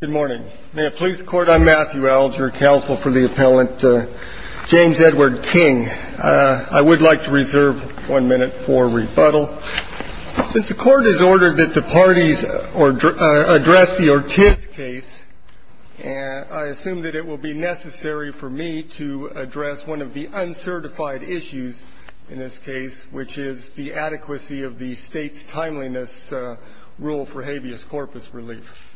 Good morning. May it please the court, I'm Matthew Alger, counsel for the appellant James Edward King. I would like to reserve one minute for rebuttal. Since the court has ordered that the parties address the Ortiz case, I assume that it will be necessary for me to address one of the uncertified issues in this case, which is the adequacy of the state's relief.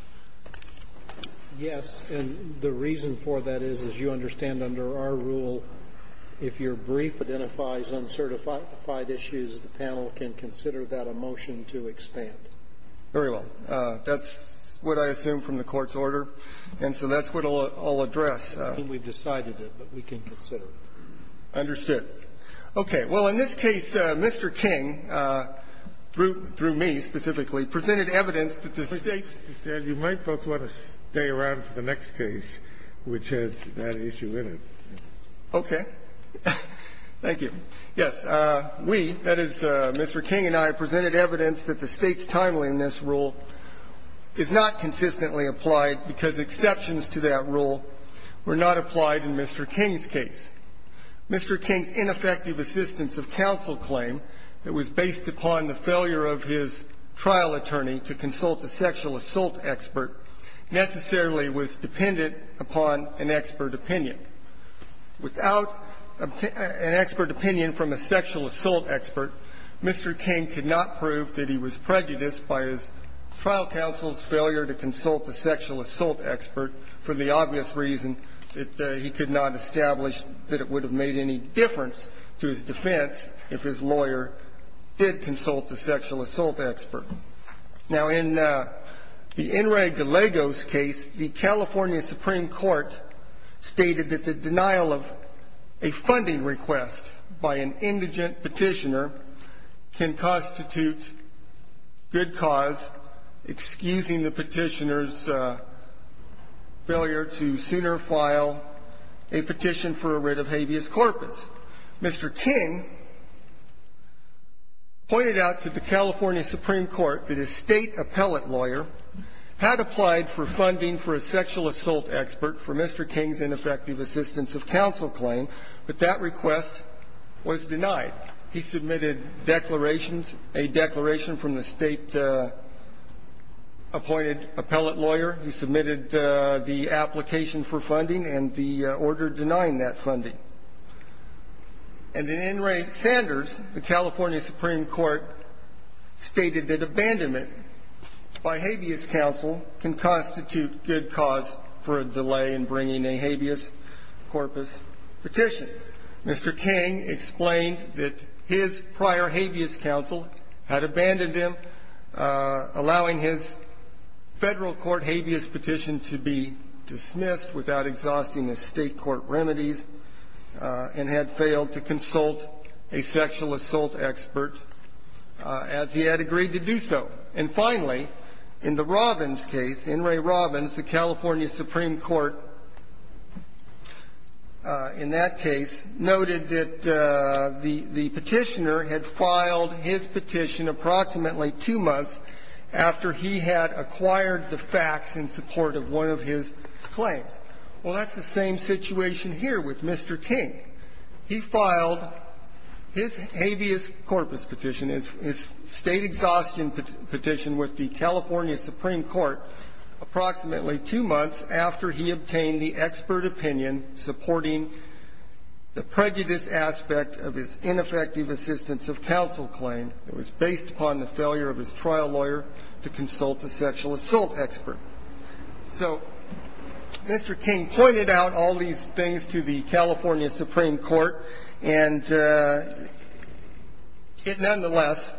Yes. And the reason for that is, as you understand, under our rule, if your brief identifies uncertified issues, the panel can consider that a motion to expand. Very well. That's what I assume from the court's order. And so that's what I'll address. I think we've decided it, but we can consider it. Understood. Okay. Well, in this case, Mr. King, through me specifically, presented evidence that the state's You might both want to stay around for the next case, which has that issue in it. Okay. Thank you. Yes. We, that is, Mr. King and I, presented evidence that the state's timeliness rule is not consistently applied because exceptions to that rule were not applied in Mr. King's case. Mr. King's ineffective assistance of counsel claim that was based upon the failure of his trial attorney to consult a sexual assault expert necessarily was dependent upon an expert opinion. Without an expert opinion from a sexual assault expert, Mr. King could not prove that he was prejudiced by his trial counsel's failure to consult a sexual assault expert for the obvious reason that he could not establish that it would have made any difference to his defense if his lawyer did consult a sexual assault expert. Now, in the Enrique Gallego's case, the California Supreme Court stated that the denial of a funding request by an indigent petitioner can constitute good cause, excusing the petitioner's failure to sooner file a petition for a writ of habeas corpus. Mr. King pointed out to the California Supreme Court that a State appellate lawyer had applied for funding for a sexual assault expert for Mr. King's ineffective assistance of counsel claim, but that request was denied. He submitted declarations, a declaration from the State-appointed appellate lawyer. He submitted the application for funding and the order denying that funding. And in Enrique Sanders, the California Supreme Court stated that abandonment by habeas counsel can constitute good cause for a delay in bringing a habeas corpus petition. Mr. King explained that his prior habeas counsel had abandoned him, allowing his Federal court habeas petition to be dismissed without exhausting the State Supreme Court remedies, and had failed to consult a sexual assault expert as he had agreed to do so. And finally, in the Robbins case, Enrique Robbins, the California Supreme Court, in that case, noted that the petitioner had filed his petition approximately two months after he had acquired the facts in support of one of his claims. Well, that's the same situation here with Mr. King. He filed his habeas corpus petition, his State exhaustion petition with the California Supreme Court approximately two months after he obtained the expert opinion supporting the prejudice aspect of his ineffective assistance of counsel claim. It was based upon the failure of his trial lawyer to consult a sexual assault expert. So Mr. King pointed out all these things to the California Supreme Court, and it nonetheless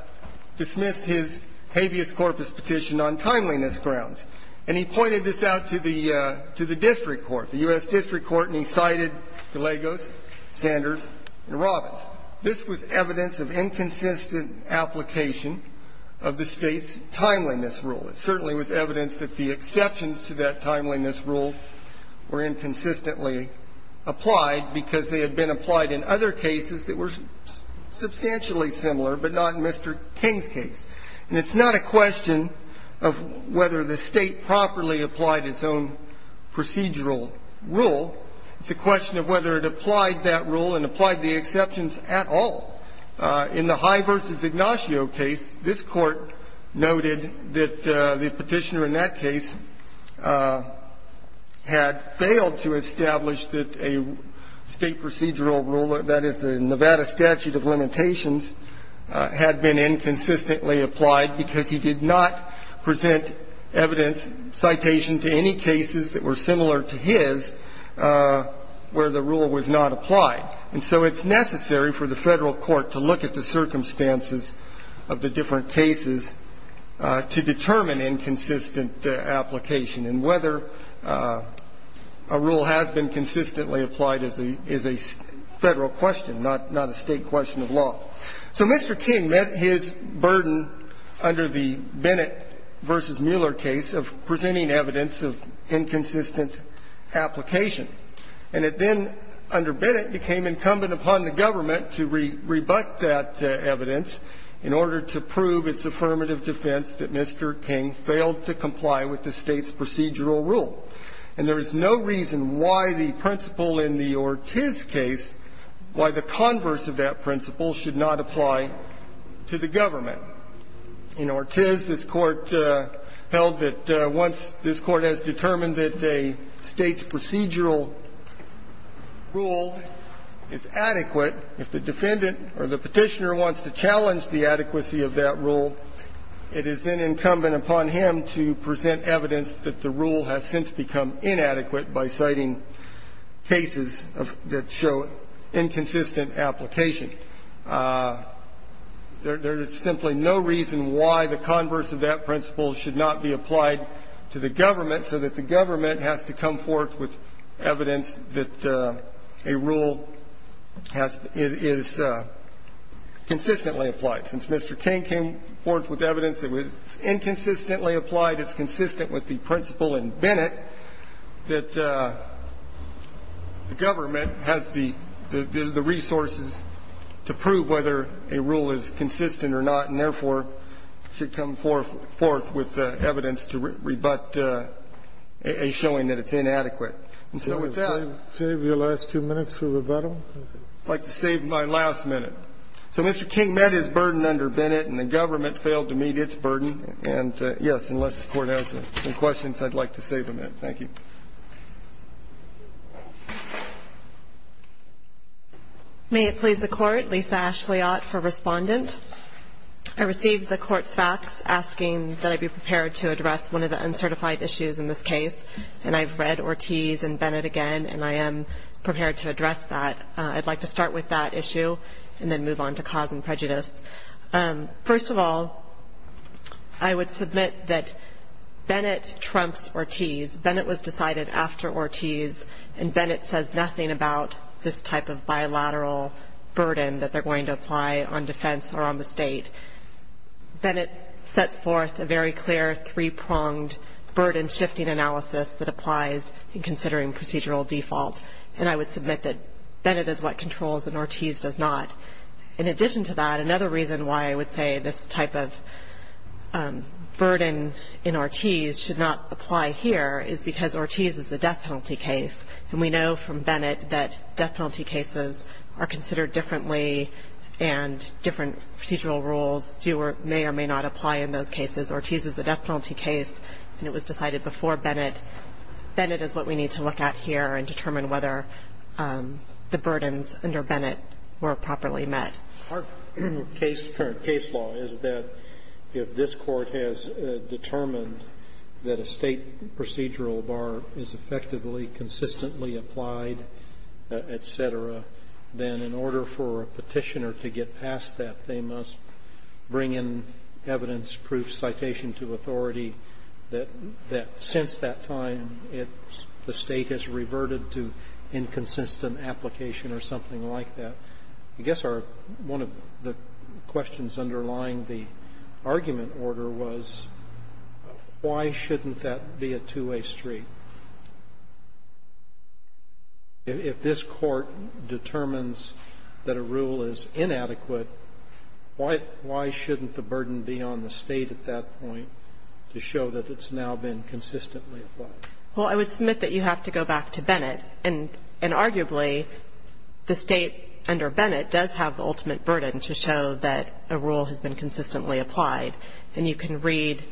dismissed his habeas corpus petition on timeliness grounds. And he pointed this out to the district court, the U.S. district court, and he cited Gallegos, Sanders, and Robbins. This was evidence of inconsistent application of the State's timeliness rule. It certainly was evidence that the exceptions to that timeliness rule were inconsistently applied because they had been applied in other cases that were substantially similar, but not in Mr. King's case. And it's not a question of whether the State properly applied its own procedural rule. It's a question of whether it applied that rule and applied the exceptions at all. In the High v. Ignacio case, this Court noted that the petitioner in that case had failed to establish that a State procedural rule, that is, the Nevada statute of limitations, had been inconsistently applied because he did not present evidence citation to any cases that were similar to his where the rule was not applied. And so it's necessary for the Federal court to look at the circumstances of the different cases to determine inconsistent application and whether a rule has been consistently applied is a Federal question, not a State question of law. So Mr. King met his burden under the Bennett v. Mueller case of presenting evidence of inconsistent application. And it then, under Bennett, became incumbent upon the government to rebut that evidence in order to prove its affirmative defense that Mr. King failed to comply with the State's procedural rule. And there is no reason why the principle in the Ortiz case, why the converse of that principle, should not apply to the government. In Ortiz, this Court held that once this Court has determined that a State's procedural rule is adequate, if the defendant or the Petitioner wants to challenge the adequacy of that rule, it is then incumbent upon him to present evidence that the rule has since become inadequate by citing cases that show inconsistent application. There is simply no reason why the converse of that principle should not be applied to the government so that the government has to come forth with evidence that a rule has been – is consistently applied. Since Mr. King came forth with evidence that was inconsistently applied, it's consistent with the principle in Bennett that the government has the resources to prove whether a rule is consistent or not and, therefore, should come forth with evidence to prove that the government has the resources to prove whether a rule is consistent And so, in this case, I would like to rebut a showing that it's inadequate. And so with that, I'd like to save my last minute. So Mr. King met his burden under Bennett, and the government failed to meet its burden. And, yes, unless the Court has any questions, I'd like to save a minute. Thank you. May it please the Court, Lisa Ashleyot for Respondent. I received the Court's facts asking that I be prepared to address one of the uncertified issues in this case, and I've read Ortiz and Bennett again, and I am prepared to address that. I'd like to start with that issue and then move on to cause and prejudice. First of all, I would submit that Bennett trumps Ortiz. Bennett was decided after Ortiz, and Bennett says nothing about this type of bilateral burden that they're going to apply on defense or on the State. Bennett sets forth a very clear three-pronged burden-shifting analysis that applies in considering procedural default, and I would submit that Bennett is what controls and Ortiz does not. In addition to that, another reason why I would say this type of burden in Ortiz should not apply here is because Ortiz is a death penalty case, and we know from Bennett that death penalty cases are considered differently and different procedural rules do or may or may not apply in those cases. Ortiz is a death penalty case, and it was decided before Bennett. Bennett is what we need to look at here and determine whether the burdens under Bennett were properly met. Our case law is that if this Court has determined that a State procedural bar is effectively, consistently applied, et cetera, then in order for a petitioner to get past that, they must bring in evidence-proof citation to authority that since that time, the State has reverted to inconsistent application or something like that. I guess our one of the questions underlying the argument order was why shouldn't that be a two-way street? If this Court determines that a rule is inadequate, why shouldn't the burden be on the State at that point to show that it's now been consistently applied? Well, I would submit that you have to go back to Bennett, and arguably, the State under Bennett does have the ultimate burden to show that a rule has been consistently applied, and you can read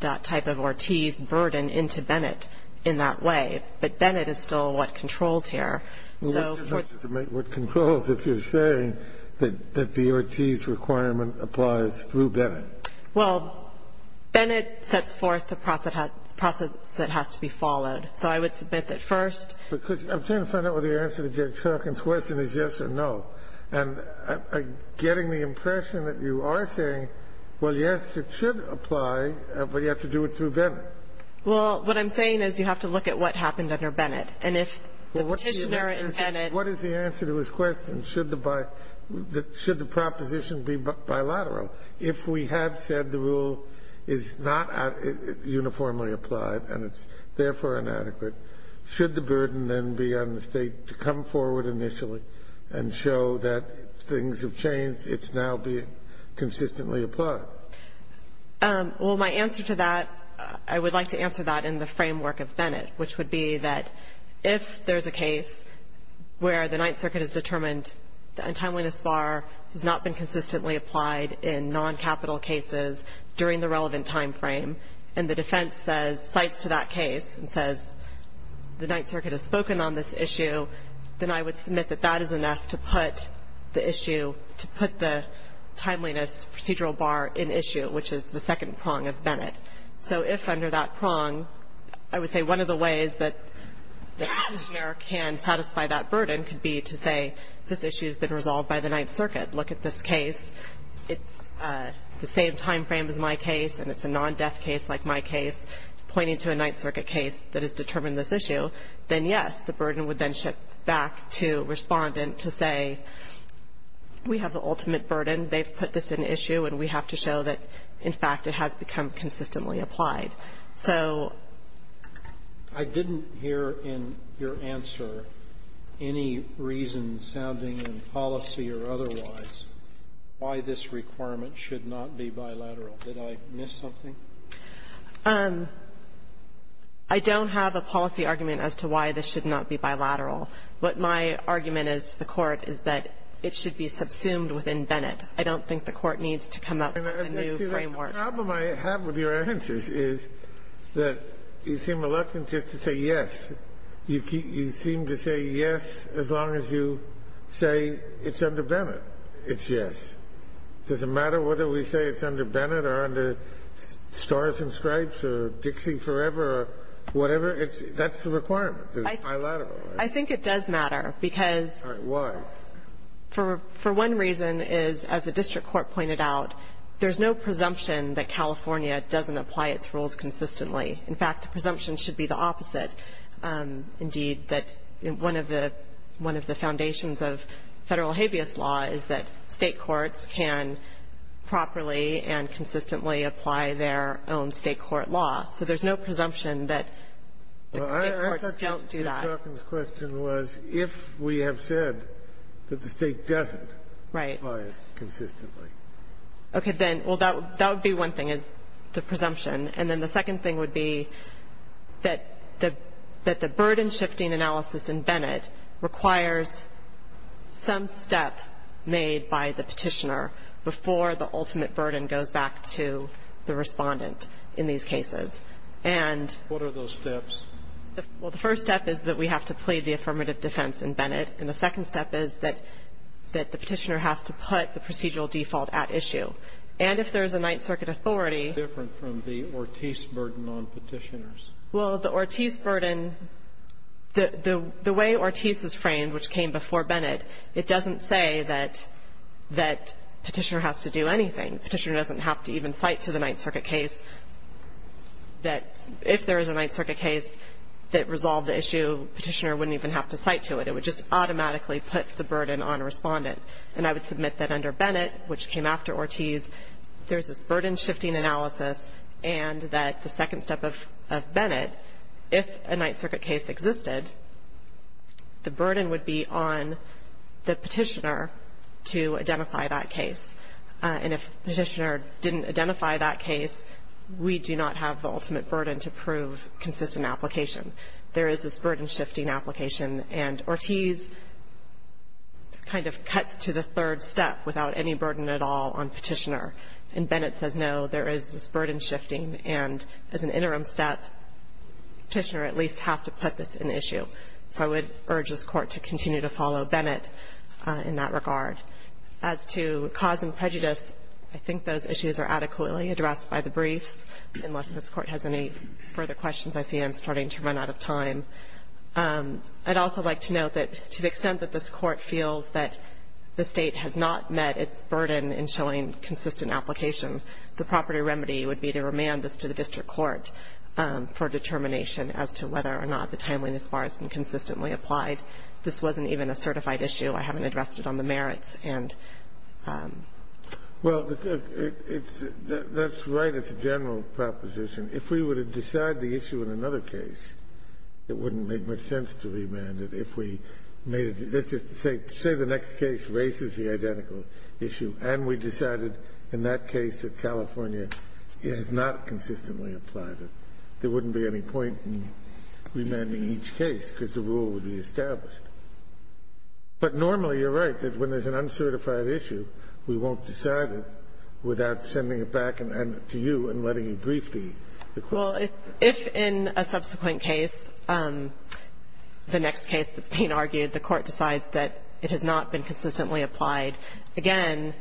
that type of Ortiz burden into Bennett in that way, but Bennett is still what controls here. What difference does it make what controls if you're saying that the Ortiz requirement applies through Bennett? Well, Bennett sets forth the process that has to be followed, so I would submit that first. Because I'm trying to find out whether your answer to Judge Harkin's question is yes or no, and I'm getting the impression that you are saying, well, yes, it should apply, but you have to do it through Bennett. Well, what I'm saying is you have to look at what happened under Bennett, and if the petitioner in Bennett What is the answer to his question, should the proposition be bilateral? If we have said the rule is not uniformly applied and it's therefore inadequate, should the burden then be on the State to come forward initially and show that things have changed, it's now been consistently applied? Well, my answer to that, I would like to answer that in the framework of Bennett, which would be that if there's a case where the Ninth Circuit has determined the untimeliness bar has not been consistently applied in non-capital cases during the relevant time frame, and the defense cites to that case and says, the Ninth Circuit has spoken on this issue, then I would submit that that is enough to put the issue, to put the timeliness procedural bar in issue, which is the second prong of Bennett. So if under that prong, I would say one of the ways that the petitioner can resolve by the Ninth Circuit, look at this case, it's the same time frame as my case, and it's a non-death case like my case, pointing to a Ninth Circuit case that has determined this issue, then yes, the burden would then shift back to respondent to say, we have the ultimate burden, they've put this in issue, and we have to show that, in fact, it has become consistently applied. So ---- I didn't hear in your answer any reason sounding in policy or otherwise why this requirement should not be bilateral. Did I miss something? I don't have a policy argument as to why this should not be bilateral. What my argument is to the Court is that it should be subsumed within Bennett. I don't think the Court needs to come up with a new framework. See, the problem I have with your answers is that you seem reluctant just to say yes. You seem to say yes as long as you say it's under Bennett. It's yes. Does it matter whether we say it's under Bennett or under Stars and Stripes or Dixie Forever or whatever? That's the requirement, bilateral. I think it does matter because ---- Why? For one reason is, as the district court pointed out, there's no presumption that California doesn't apply its rules consistently. In fact, the presumption should be the opposite, indeed, that one of the foundations of Federal habeas law is that State courts can properly and consistently apply their own State court law. So there's no presumption that State courts don't do that. Mr. Strzokin's question was if we have said that the State doesn't apply it consistently. Right. Okay. Well, that would be one thing, is the presumption. And then the second thing would be that the burden-shifting analysis in Bennett requires some step made by the Petitioner before the ultimate burden goes back to the Respondent in these cases. And ---- What are those steps? Well, the first step is that we have to plead the affirmative defense in Bennett, and the second step is that the Petitioner has to put the procedural default at issue. And if there's a Ninth Circuit authority ---- That's different from the Ortiz burden on Petitioners. Well, the Ortiz burden ---- the way Ortiz is framed, which came before Bennett, it doesn't say that Petitioner has to do anything. Petitioner doesn't have to even cite to the Ninth Circuit case that if there is a Ninth Circuit case that resolved the issue, Petitioner wouldn't even have to cite to it. It would just automatically put the burden on Respondent. And I would submit that under Bennett, which came after Ortiz, there's this burden-shifting analysis and that the second step of Bennett, if a Ninth Circuit case existed, the burden would be on the Petitioner to identify that case. And if Petitioner didn't identify that case, we do not have the ultimate burden to prove consistent application. There is this burden-shifting application, and Ortiz kind of cuts to the third step without any burden at all on Petitioner. And Bennett says, no, there is this burden-shifting. And as an interim step, Petitioner at least has to put this in issue. So I would urge this Court to continue to follow Bennett in that regard. As to cause and prejudice, I think those issues are adequately addressed by the briefs. Unless this Court has any further questions, I see I'm starting to run out of time. I'd also like to note that to the extent that this Court feels that the State has not met its burden in showing consistent application, the proper remedy would be to remand this to the District Court for determination as to whether or not the timeliness bar has been consistently applied. This wasn't even a certified issue. I haven't addressed it on the merits and... Well, that's right. It's a general proposition. If we were to decide the issue in another case, it wouldn't make much sense to remand it if we made it. Let's just say the next case raises the identical issue, and we decided in that case that California has not consistently applied it. There wouldn't be any point in remanding each case because the rule would be established. But normally, you're right, that when there's an uncertified issue, we won't decide it without sending it back to you and letting you brief the Court. Well, if in a subsequent case, the next case that's being argued, the Court decides that it has not been consistently applied, again,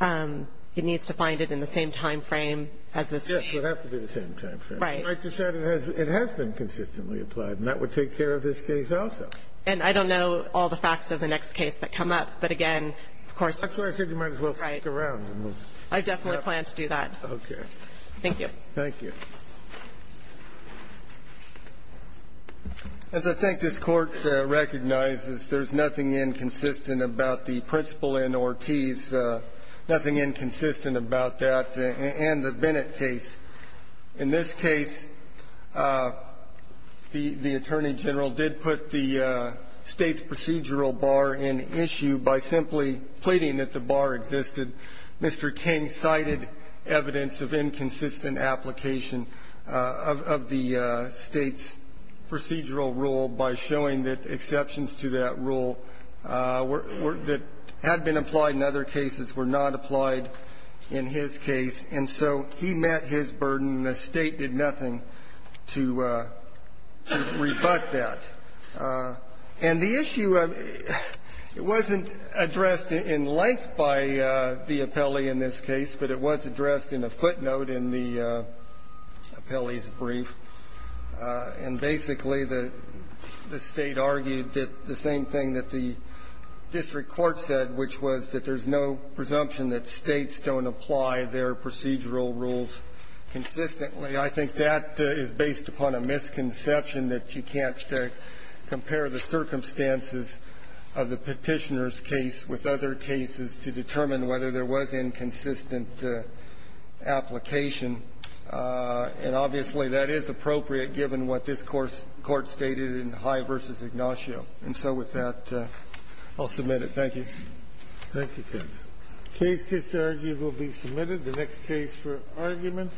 it needs to find it in the same time frame as this case. Yes, it would have to be the same time frame. Right. You might decide it has been consistently applied, and that would take care of this case also. And I don't know all the facts of the next case that come up, but again, of course. That's why I said you might as well stick around. Right. I definitely plan to do that. Okay. Thank you. Thank you. As I think this Court recognizes, there's nothing inconsistent about the principle in Ortiz, nothing inconsistent about that and the Bennett case. In this case, the Attorney General did put the State's procedural bar in issue by simply pleading that the bar existed. Mr. King cited evidence of inconsistent application of the State's procedural rule by showing that exceptions to that rule that had been applied in other cases were not applied in his case. And so he met his burden, and the State did nothing to rebut that. And the issue wasn't addressed in length by the appellee in this case, but it was addressed in a footnote in the appellee's brief. And basically, the State argued the same thing that the district court said, which was that there's no presumption that States don't apply their procedural rules consistently. I think that is based upon a misconception that you can't compare the circumstances of the Petitioner's case with other cases to determine whether there was inconsistent application. And obviously, that is appropriate given what this Court stated in High v. Ignacio. And so with that, I'll submit it. Thank you. Thank you, Ken. Case disargued will be submitted. The next case for argument.